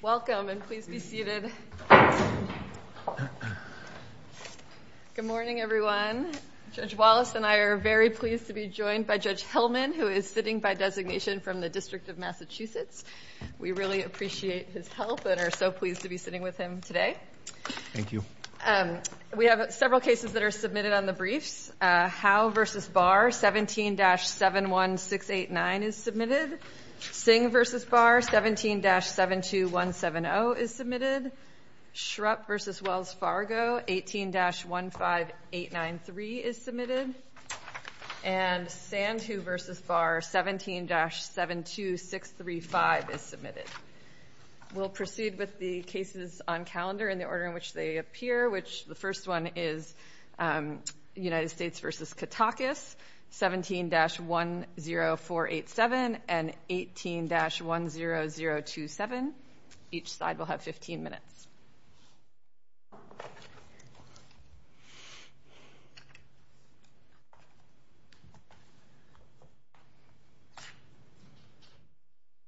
Welcome and please be seated. Good morning everyone. Judge Wallace and I are very pleased to be joined by Judge Hillman who is sitting by designation from the District of Massachusetts. We really appreciate his help and are so pleased to be sitting with him today. Thank you. We have several cases that are submitted on the briefs. Howe v. Barr 17-71689 is submitted. Singh v. Barr 17-72170 is submitted. Shrupp v. Wells Fargo 18-15893 is submitted. And Sandhu v. Barr 17-72635 is submitted. We'll proceed with the cases on calendar in the order in which they appear which the first one is United States v. Katakis 17-10487 and 18-10027. Each side will have 15 minutes.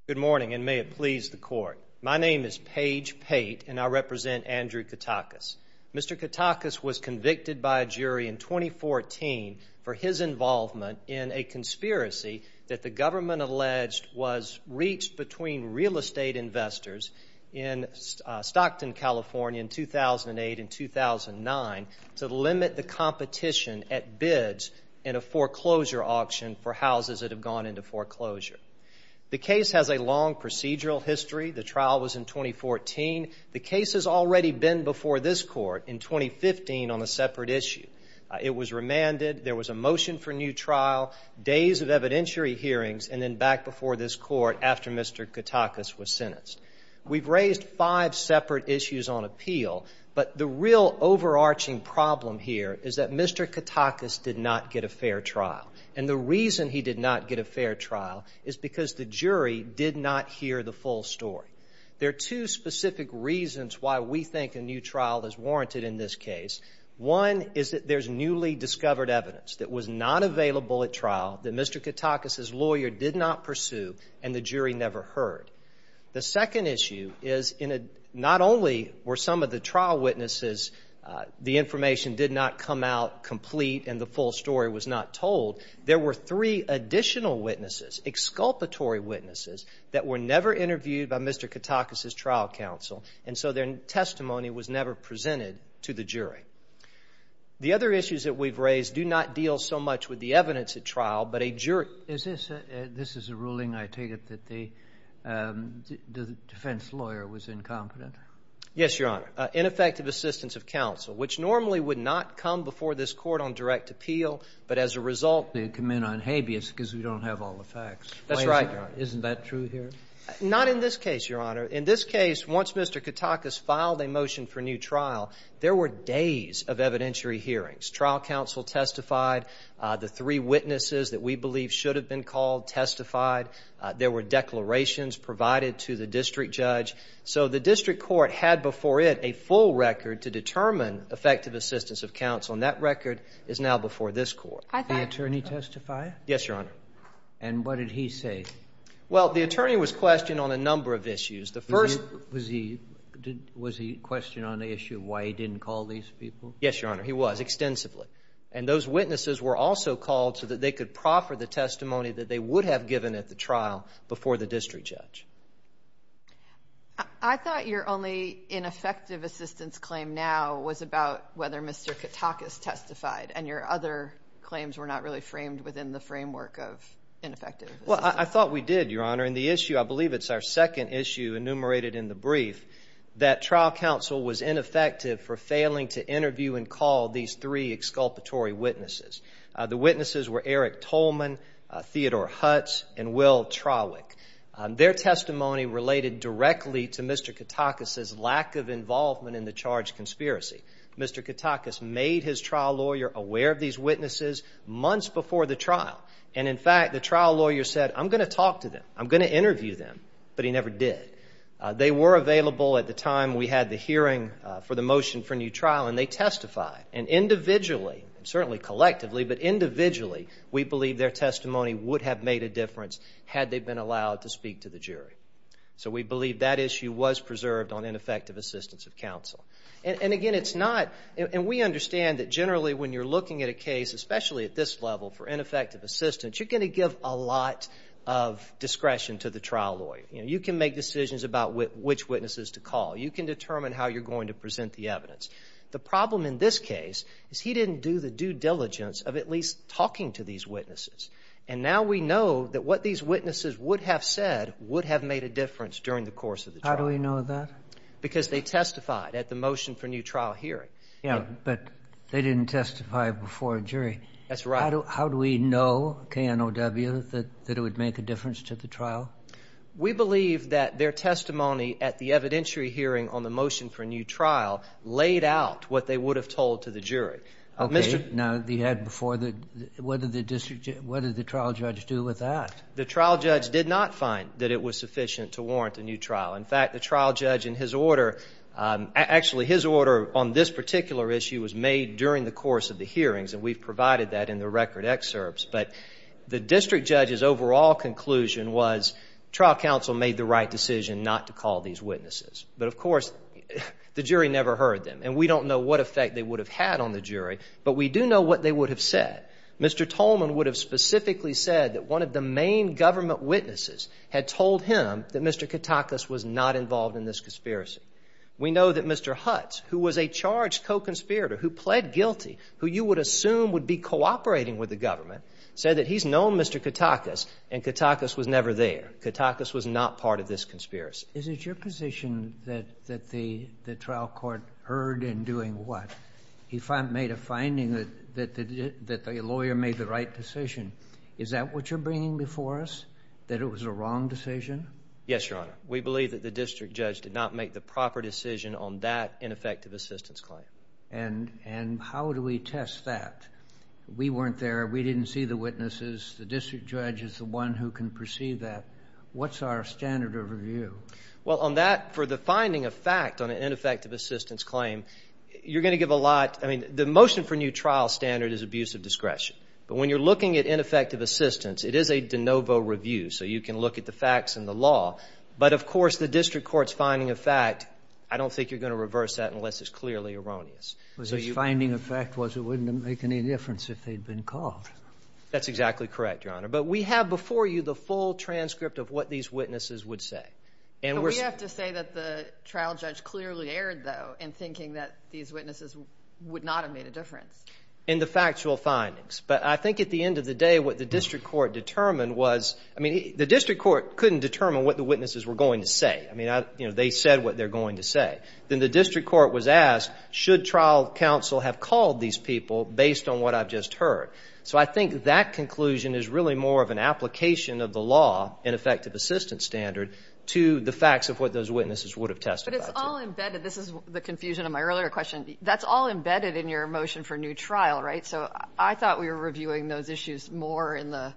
Good morning and may it please the court. My name is Page Pate and I represent Andrew Katakis. Mr. Katakis was convicted by a jury in 2014 for his involvement in a conspiracy that the government alleged was reached between real estate investors in Stockton, California in 2008 and 2009 to limit the competition at bids in a foreclosure auction for houses that have gone into foreclosure. The case has a long procedural history. The trial was in 2014. The case has already been before this court in 2015 on a separate issue. It was remanded. There was a motion for new trial, days of evidentiary hearings, and then back before this court after Mr. Katakis was sentenced. We've raised five separate issues on appeal, but the real overarching problem here is that Mr. Katakis did not get a fair trial. And the reason he did not get a fair trial is because the jury did not hear the full story. There are two specific reasons why we think a new trial is warranted in this case. One is that there's newly discovered evidence that was not available at trial, that Mr. Katakis's lawyer did not pursue, and the jury never heard. The second issue is not only were some of the trial witnesses, the information did not come out complete and the full story was not told, there were three additional witnesses, exculpatory witnesses, that were never interviewed by Mr. Katakis's trial counsel, and so their testimony was never presented to the jury. The other issues that we've raised do not deal so much with the evidence at trial, but a jury Is this a ruling, I take it, that the defense lawyer was incompetent? Yes, Your Honor. Ineffective assistance of counsel, which normally would not come before this court on direct appeal, but as a result they come in on habeas because we don't have all the facts. That's right. Isn't that true here? Not in this case, Your Honor. In this case, once Mr. Katakis filed a motion for new trial, there were days of evidentiary hearings. Trial counsel testified. The three witnesses that we believe should have been called testified. There were declarations provided to the district judge. So the district court had before it a full record to determine effective assistance of counsel, and that record is now before this court. Did the attorney testify? Yes, Your Honor. And what did he say? Well, the attorney was questioned on a number of issues. The first Was he questioned on the issue of why he didn't call these people? Yes, Your Honor. He was, extensively. And those witnesses were also called so that they could proffer the testimony that they would have given at the trial before the district judge. I thought your only ineffective assistance claim now was about whether Mr Katakis testified and your other claims were not really framed within the framework of ineffective. Well, I thought we did, Your Honor. In the issue, I believe it's our second issue enumerated in the brief that trial counsel was ineffective for failing to interview and call these three exculpatory witnesses. The witnesses were Eric Tolman, Theodore Hutz and Will Trawick. Their testimony related directly to Mr Katakis's lack of made his trial lawyer aware of these witnesses months before the trial. And, in fact, the trial lawyer said, I'm going to talk to them. I'm going to interview them. But he never did. They were available at the time we had the hearing for the motion for new trial, and they testified. And individually, certainly collectively, but individually, we believe their testimony would have made a difference had they been allowed to speak to the jury. So we believe that issue was preserved on ineffective assistance of counsel. And again, it's not. And we understand that generally, when you're looking at a case, especially at this level for ineffective assistance, you're going to give a lot of discretion to the trial lawyer. You can make decisions about which witnesses to call. You can determine how you're going to present the evidence. The problem in this case is he didn't do the due diligence of at least talking to these witnesses. And now we know that what these witnesses would have said would have made a difference during the course of the trial. How do we know that? Because they testified at the motion for new trial hearing. But they didn't testify before a jury. That's right. How do we know, KNOW, that it would make a difference to the trial? We believe that their testimony at the evidentiary hearing on the motion for a new trial laid out what they would have told to the jury. Okay. Now, you had before the, what did the district, what did the trial judge do with that? The trial judge did not find that it was sufficient to warrant a new trial. In fact, the trial judge in his order, actually his order on this particular issue was made during the course of the hearings. And we've provided that in the record excerpts. But the district judge's overall conclusion was trial counsel made the right decision not to call these witnesses. But, of course, the jury never heard them. And we don't know what effect they would have had on the jury. But we do know what they would have said. Mr. Tolman would have specifically said that one of the main government witnesses had told him that Mr. Katakis was not involved in this conspiracy. We know that Mr. Hutz, who was a charged co-conspirator, who pled guilty, who you would assume would be cooperating with the government, said that he's known Mr. Katakis and Katakis was never there. Katakis was not part of this conspiracy. Is it your position that the trial court heard in doing what? He made a finding that the lawyer made the right decision. Is that what you're bringing before us, that it was a wrong decision? Yes, Your Honor. We believe that the district judge did not make the proper decision on that ineffective assistance claim. And how do we test that? We weren't there. We didn't see the witnesses. The district judge is the one who can perceive that. What's our standard of review? Well, on that, for the finding of fact on an ineffective assistance claim, you're going to give a lot. I mean, the motion for new trial standard is abuse of discretion. But when you're looking at ineffective assistance, it is a de novo review. So you can look at the facts and the law. But, of course, the district court's finding of fact, I don't think you're going to reverse that unless it's clearly erroneous. Was his finding of fact was it wouldn't make any difference if they'd been caught? That's exactly correct, Your Honor. But we have before you the full transcript of what these witnesses would say. And we have to say that the trial judge clearly erred, though, in thinking that these witnesses would not have made a difference in the factual findings. But I think at the end of the day, what the district court determined was, I mean, the district court couldn't determine what the witnesses were going to say. I mean, they said what they're going to say. Then the district court was asked, should trial counsel have called these people based on what I've just heard? So I think that conclusion is really more of an application of the law and effective assistance standard to the facts of what those witnesses would have tested. But it's all embedded. This is the confusion of my earlier question. That's all embedded in your motion for new trial, right? So I thought we were reviewing those issues more in the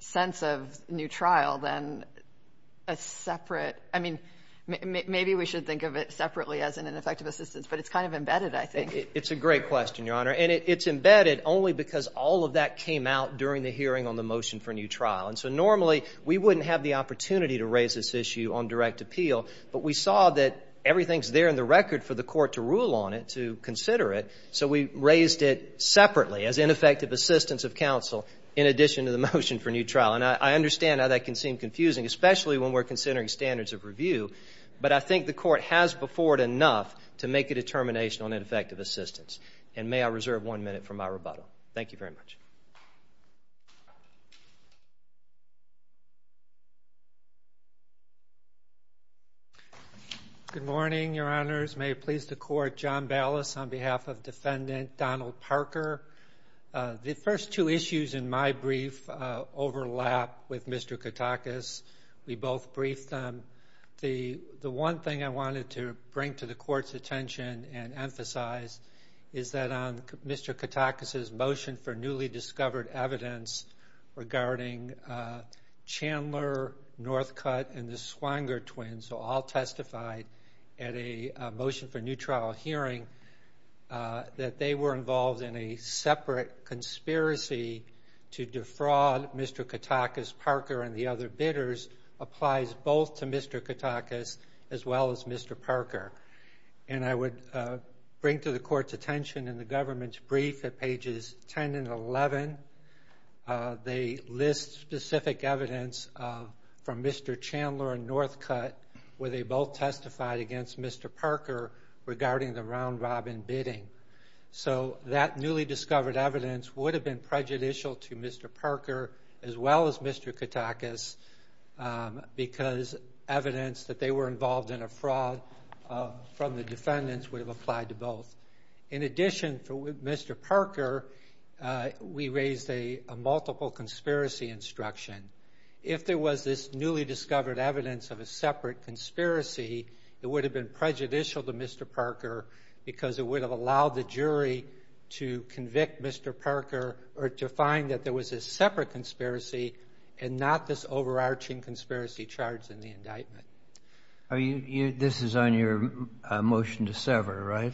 sense of new trial than a separate. I mean, maybe we should think of it separately as an ineffective assistance, but it's kind of embedded, I think. It's a great question, Your Honor. And it's embedded only because all of that came out during the hearing on the motion for new trial. And so normally we wouldn't have the opportunity to raise this issue on direct appeal. But we saw that everything's there in the record for the court to rule on it, to consider it. So we raised it separately as ineffective assistance of counsel in addition to the motion for new trial. And I understand how that can seem confusing, especially when we're considering standards of review. But I think the court has before it enough to make a determination on ineffective assistance. And may I reserve one minute for my rebuttal? Thank you very much. Good morning, Your Honors. May it please the court, John Ballas on behalf of Defendant Donald Parker. The first two issues in my brief overlap with Mr. Katakis. We both briefed them. The one thing I wanted to bring to the court's emphasis is that on Mr. Katakis' motion for newly discovered evidence regarding Chandler, Northcutt, and the Swanger twins, who all testified at a motion for new trial hearing, that they were involved in a separate conspiracy to defraud Mr. Katakis. Parker and the other bidders applies both to Mr. Parker. And I would bring to the court's attention in the government's brief at pages 10 and 11, they list specific evidence from Mr. Chandler and Northcutt where they both testified against Mr. Parker regarding the round-robin bidding. So that newly discovered evidence would have been prejudicial to Mr. Parker as well as Mr. Katakis because evidence that they were involved in a fraud from the defendants would have applied to both. In addition, for Mr. Parker, we raised a multiple conspiracy instruction. If there was this newly discovered evidence of a separate conspiracy, it would have been prejudicial to Mr. Parker because it would have allowed the jury to convict Mr. Parker or to find that there was a separate conspiracy and not this This is on your motion to sever, right?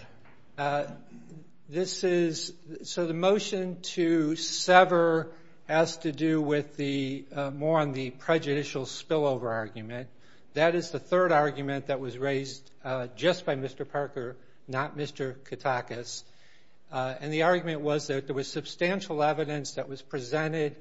This is, so the motion to sever has to do with the more on the prejudicial spillover argument. That is the third argument that was raised just by Mr. Parker, not Mr. Katakis. And the argument was that there was substantial evidence that was presented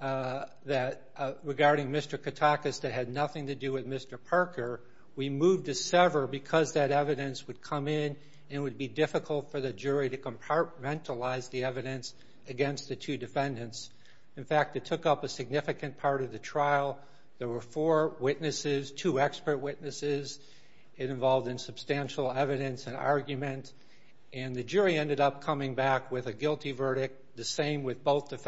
that regarding Mr. Katakis that had nothing to do with Mr. Parker. We moved to sever because that evidence would come in and it would be difficult for the jury to compartmentalize the evidence against the two defendants. In fact, it took up a significant part of the trial. There were four witnesses, two expert witnesses. It involved in substantial evidence and argument. And the jury ended up coming back with a guilty verdict. The same with both that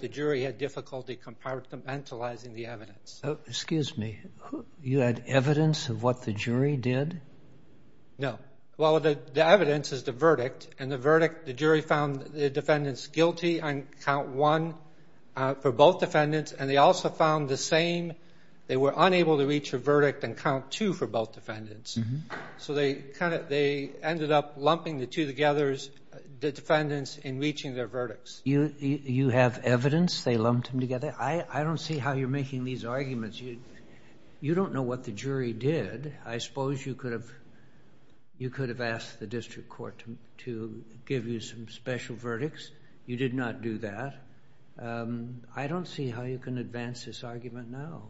the jury had difficulty compartmentalizing the evidence. Excuse me, you had evidence of what the jury did? No. Well, the evidence is the verdict and the verdict, the jury found the defendants guilty on count one for both defendants and they also found the same they were unable to reach a verdict on count two for both defendants. So they kind of, they ended up lumping the two together, the defendants, in reaching their verdicts. You have evidence they lumped them together? I don't see how you're making these arguments. You don't know what the jury did. I suppose you could have asked the district court to give you some special verdicts. You did not do that. I don't see how you can advance this argument now.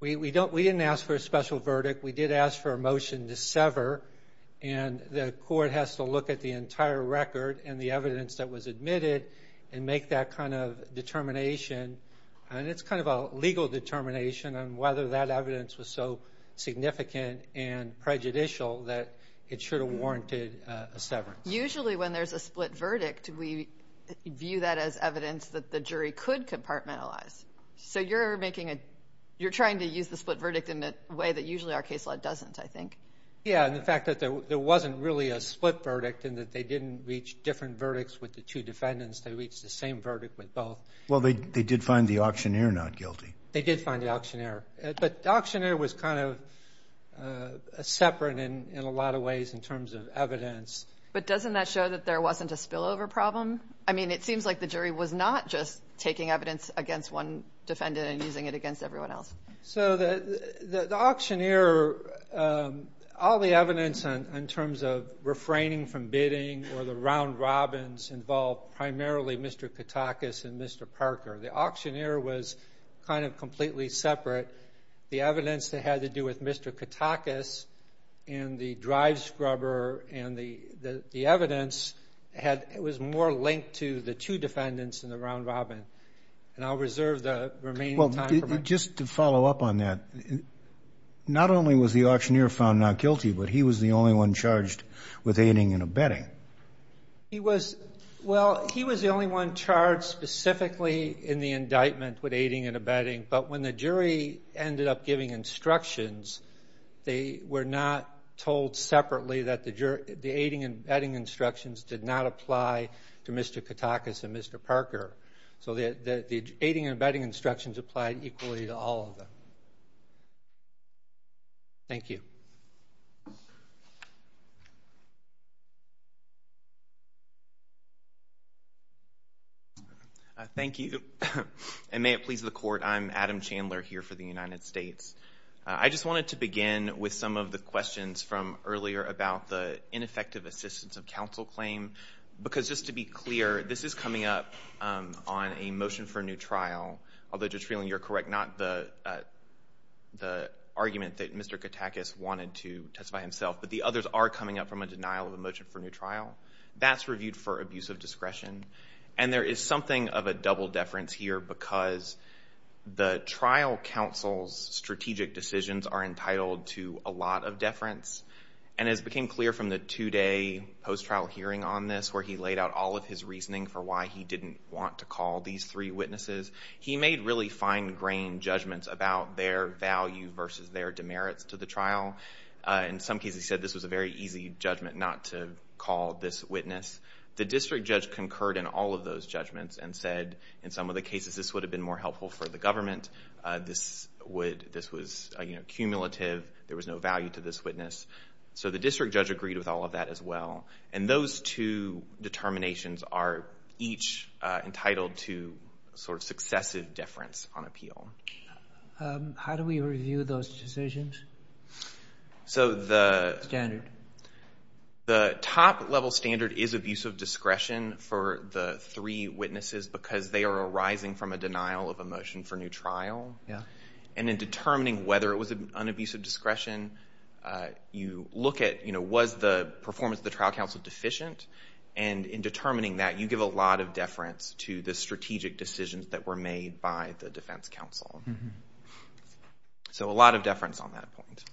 We didn't ask for a special verdict. We did ask for a motion to sever and the case was admitted and make that kind of determination. And it's kind of a legal determination on whether that evidence was so significant and prejudicial that it should have warranted a severance. Usually when there's a split verdict, we view that as evidence that the jury could compartmentalize. So you're making a, you're trying to use the split verdict in a way that usually our case law doesn't, I think. Yeah, and the fact that there wasn't really a split verdict and that they didn't reach different verdicts with the two defendants. They reached the same verdict with both. Well, they did find the auctioneer not guilty. They did find the auctioneer. But the auctioneer was kind of separate in a lot of ways in terms of evidence. But doesn't that show that there wasn't a spillover problem? I mean, it seems like the jury was not just taking evidence against one defendant and using it against everyone else. So the auctioneer, all the or the round robins involved primarily Mr. Katakis and Mr. Parker. The auctioneer was kind of completely separate. The evidence that had to do with Mr. Katakis and the drive scrubber and the evidence was more linked to the two defendants in the round robin. And I'll reserve the remaining time. Well, just to follow up on that, not only was the auctioneer found not guilty, but he was the only one charged with aiding and abetting. He was, well, he was the only one charged specifically in the indictment with aiding and abetting. But when the jury ended up giving instructions, they were not told separately that the jury, the aiding and abetting instructions did not apply to Mr. Katakis and Mr. Parker. So the aiding and abetting instructions applied equally to all of them. Thank you. Thank you. And may it please the court, I'm Adam Chandler here for the United States. I just wanted to begin with some of the questions from earlier about the ineffective assistance of counsel claim. Because just to be clear, this is coming up on a motion for a new trial, although just feeling you're correct, not the argument that Mr. Katakis wanted to testify himself, but the others are coming up from a denial of a motion for a new trial. That's reviewed for abuse of discretion. And there is something of a double deference here because the trial counsel's strategic decisions are entitled to a lot of deference. And as became clear from the two-day post-trial hearing on this, where he laid out all of his reasoning for why he didn't want to call these three witnesses, he made really fine-grained judgments about their value versus their demerits to the trial. In some cases he said this was a very easy judgment not to call this witness. The district judge concurred in all of those judgments and said in some of the cases this would have been more helpful for the government. This would, this was, you know, cumulative. There was no value to this witness. So the district judge agreed with all of that as well. And those two determinations are each entitled to sort of successive deference on appeal. How do we review those decisions? So the standard. The top-level standard is abuse of discretion for the three witnesses because they are arising from a denial of a motion for new trial. Yeah. And in determining whether it was an abuse of discretion, you look at, you know, was the performance of the trial counsel deficient? And in determining that, you give a lot of deference to the strategic decisions that were made by the defense counsel. So a lot of deference on that point.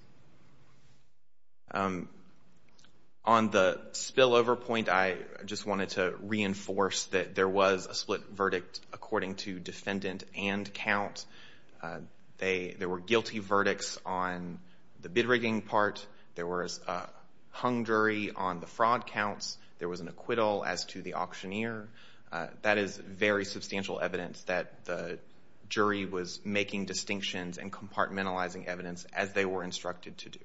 On the spillover point, I just wanted to reinforce that there was a split verdict according to defendant and count. There were guilty verdicts on the hung jury, on the fraud counts. There was an acquittal as to the auctioneer. That is very substantial evidence that the jury was making distinctions and compartmentalizing evidence as they were instructed to do.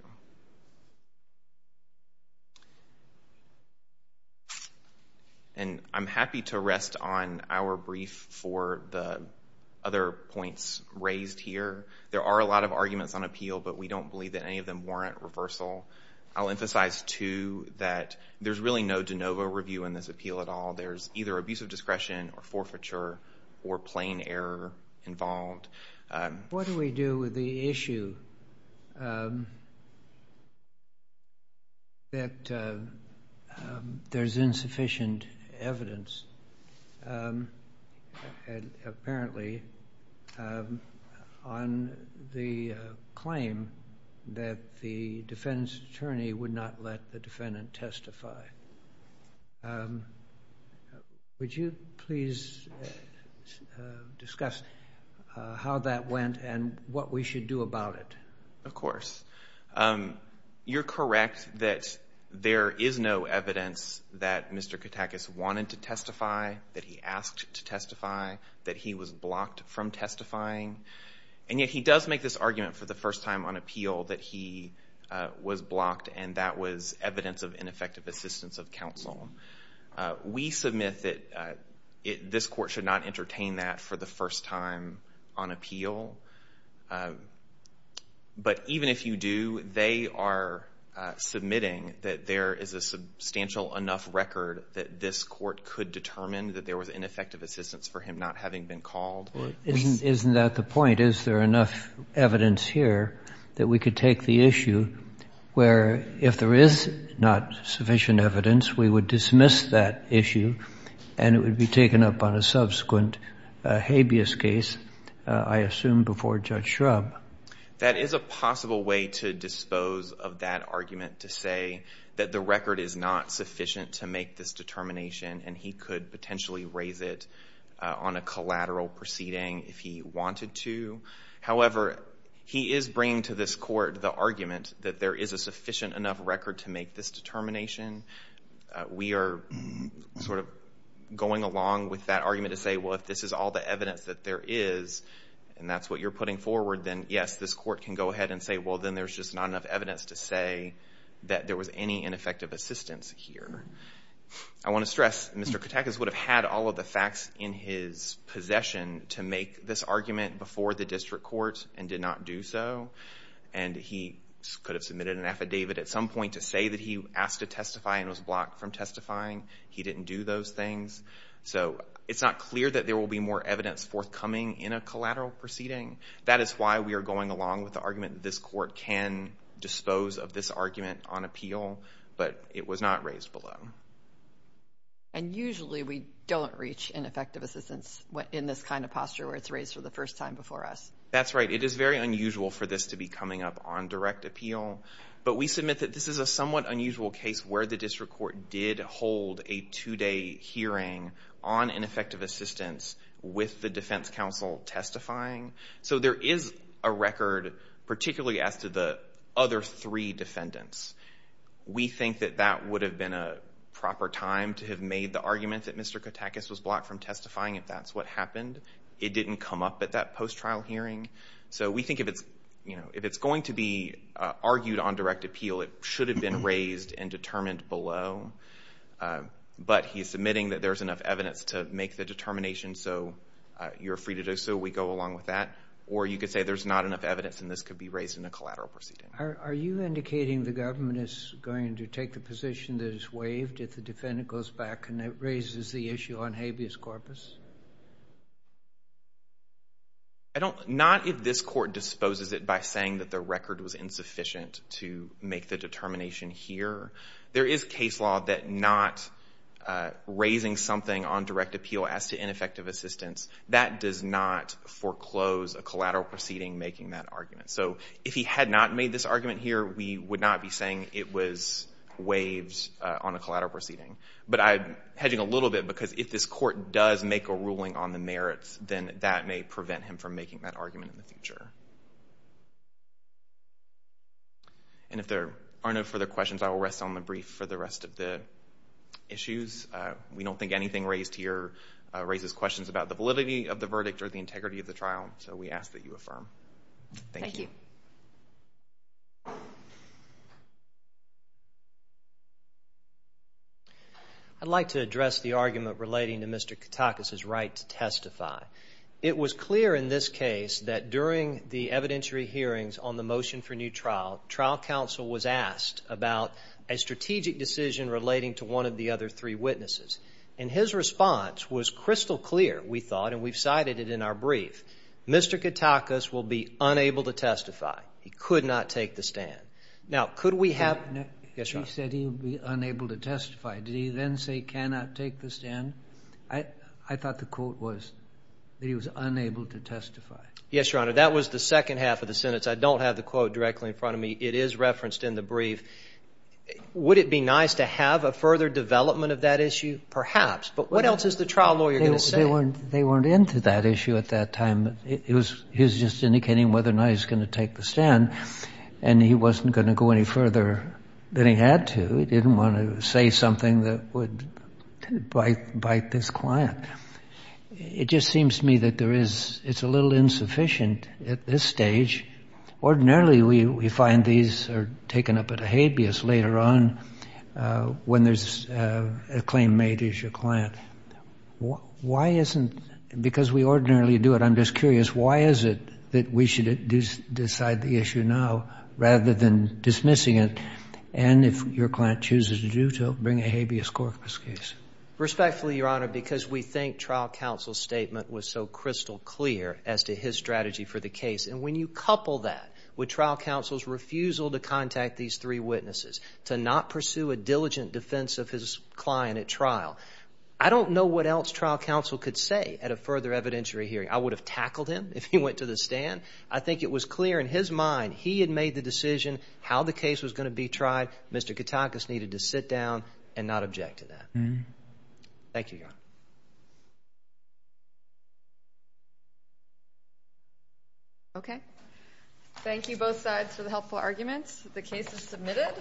And I'm happy to rest on our brief for the other points raised here. There are a lot of arguments on appeal, but we don't believe that any of them warrant reversal. I'll emphasize, too, that there's really no de novo review in this appeal at all. There's either abuse of discretion or forfeiture or plain error involved. What do we do with the issue that there's insufficient evidence, apparently, on the claim that the defense attorney would not let the defendant testify? Would you please discuss how that went and what we should do about it? Of course. You're correct that there is no evidence that Mr. Katakis wanted to testify, that he asked to testify, that he was blocked from testifying. And yet he does make this argument for the first time on appeal that he was blocked and that was evidence of ineffective assistance of counsel. We submit that this court should not entertain that for the first time on appeal. But even if you do, they are submitting that there is a substantial enough record that this court could determine that there was ineffective assistance for him not having been called. Isn't that the point? Is there enough evidence here that we could take the issue where, if there is not sufficient evidence, we would dismiss that issue and it would be taken up on a subsequent habeas case, I assume before Judge Schrub? That is a possible way to dispose of that argument, to say that the record is not sufficient to make this determination and he could potentially raise it on a collateral proceeding if he wanted to. However, he is bringing to this court the argument that there is a sufficient enough record to make this determination. We are sort of going along with that argument to say, well, if this is all the evidence that there is and that's what you're putting forward, then yes, this court can go ahead and say, well, then there's just not enough evidence to say that there was any ineffective assistance here. I want to stress, Mr. Katakis would have had all of the facts in his possession to make this argument before the district court and did not do so. And he could have submitted an affidavit at some point to say that he asked to testify and was blocked from testifying. He didn't do those things. So it's not clear that there will be more evidence forthcoming in a collateral proceeding. That is why we are going along with the argument that this court can dispose of this argument on appeal, but it was not raised below. And usually we don't reach ineffective assistance in this kind of posture where it's raised for the first time before us. That's right. It is very unusual for this to be coming up on direct appeal, but we submit that this is a somewhat unusual case where the district court did hold a two-day hearing on ineffective assistance with the defense counsel testifying. So there is a record, particularly as to the other three defendants. We think that that would have been a proper time to have made the argument that Mr. Katakis was blocked from testifying if that's what happened. It didn't come up at that post-trial hearing. So we think if it's, you know, if it's going to be argued on direct appeal, it should have been raised and determined below. But he's submitting that there's enough evidence to make the decision. Should we go along with that? Or you could say there's not enough evidence and this could be raised in a collateral proceeding. Are you indicating the government is going to take the position that is waived if the defendant goes back and it raises the issue on habeas corpus? Not if this court disposes it by saying that the record was insufficient to make the determination here. There is case law that not raising something on direct appeal as to ineffective assistance, that does not foreclose a collateral proceeding making that argument. So if he had not made this argument here, we would not be saying it was waived on a collateral proceeding. But I'm hedging a little bit because if this court does make a ruling on the merits, then that may prevent him from making that argument in the future. And if there are no further questions, I will rest on the brief for the rest of the issues. We don't think anything raised here raises questions about the validity of the verdict or the integrity of the trial, so we ask that you affirm. Thank you. I'd like to address the argument relating to Mr. Katakis's right to testify. It was clear in this case that during the evidentiary hearings on the motion for new trial, trial counsel was asked about a strategic decision relating to one of the other three witnesses. And his response was crystal clear, we thought, and we've cited it in our brief. Mr. Katakis will be unable to testify. He could not take the stand. Now, could we have... He said he would be unable to testify. Did he then say cannot take the stand? I thought the quote was that he was unable to testify. Yes, Your Honor. That was the second half of the sentence. I don't have the quote directly in front of me. It is referenced in the brief. Would it be nice to have a further development of that issue? Perhaps. But what else is the trial lawyer going to say? They weren't into that issue at that time. It was, he was just indicating whether or not he was going to take the stand, and he wasn't going to go any further than he had to. He didn't want to say something that would bite this client. It just seems to me that there is, it's a little insufficient at this stage. Ordinarily, we find these are taken up at a habeas later on when there's a claim made against your client. Why isn't, because we ordinarily do it, I'm just curious, why is it that we should decide the issue now rather than dismissing it? And if your client chooses to do so, bring a habeas corpus case. Respectfully, Your Honor, because we think trial counsel's statement was so crystal clear as to his strategy for the case. And when you couple that with trial counsel's refusal to contact these three witnesses, to not pursue a diligent defense of his client at trial, I don't know what else trial counsel could say at a further evidentiary hearing. I would have tackled him if he went to the stand. I think it was clear in his mind he had made the decision how the case was going to be tried. Mr. Katakis needed to sit down and not object to that. Thank you, Your Honor. Okay. Thank you, both sides, for the helpful arguments. The case is submitted.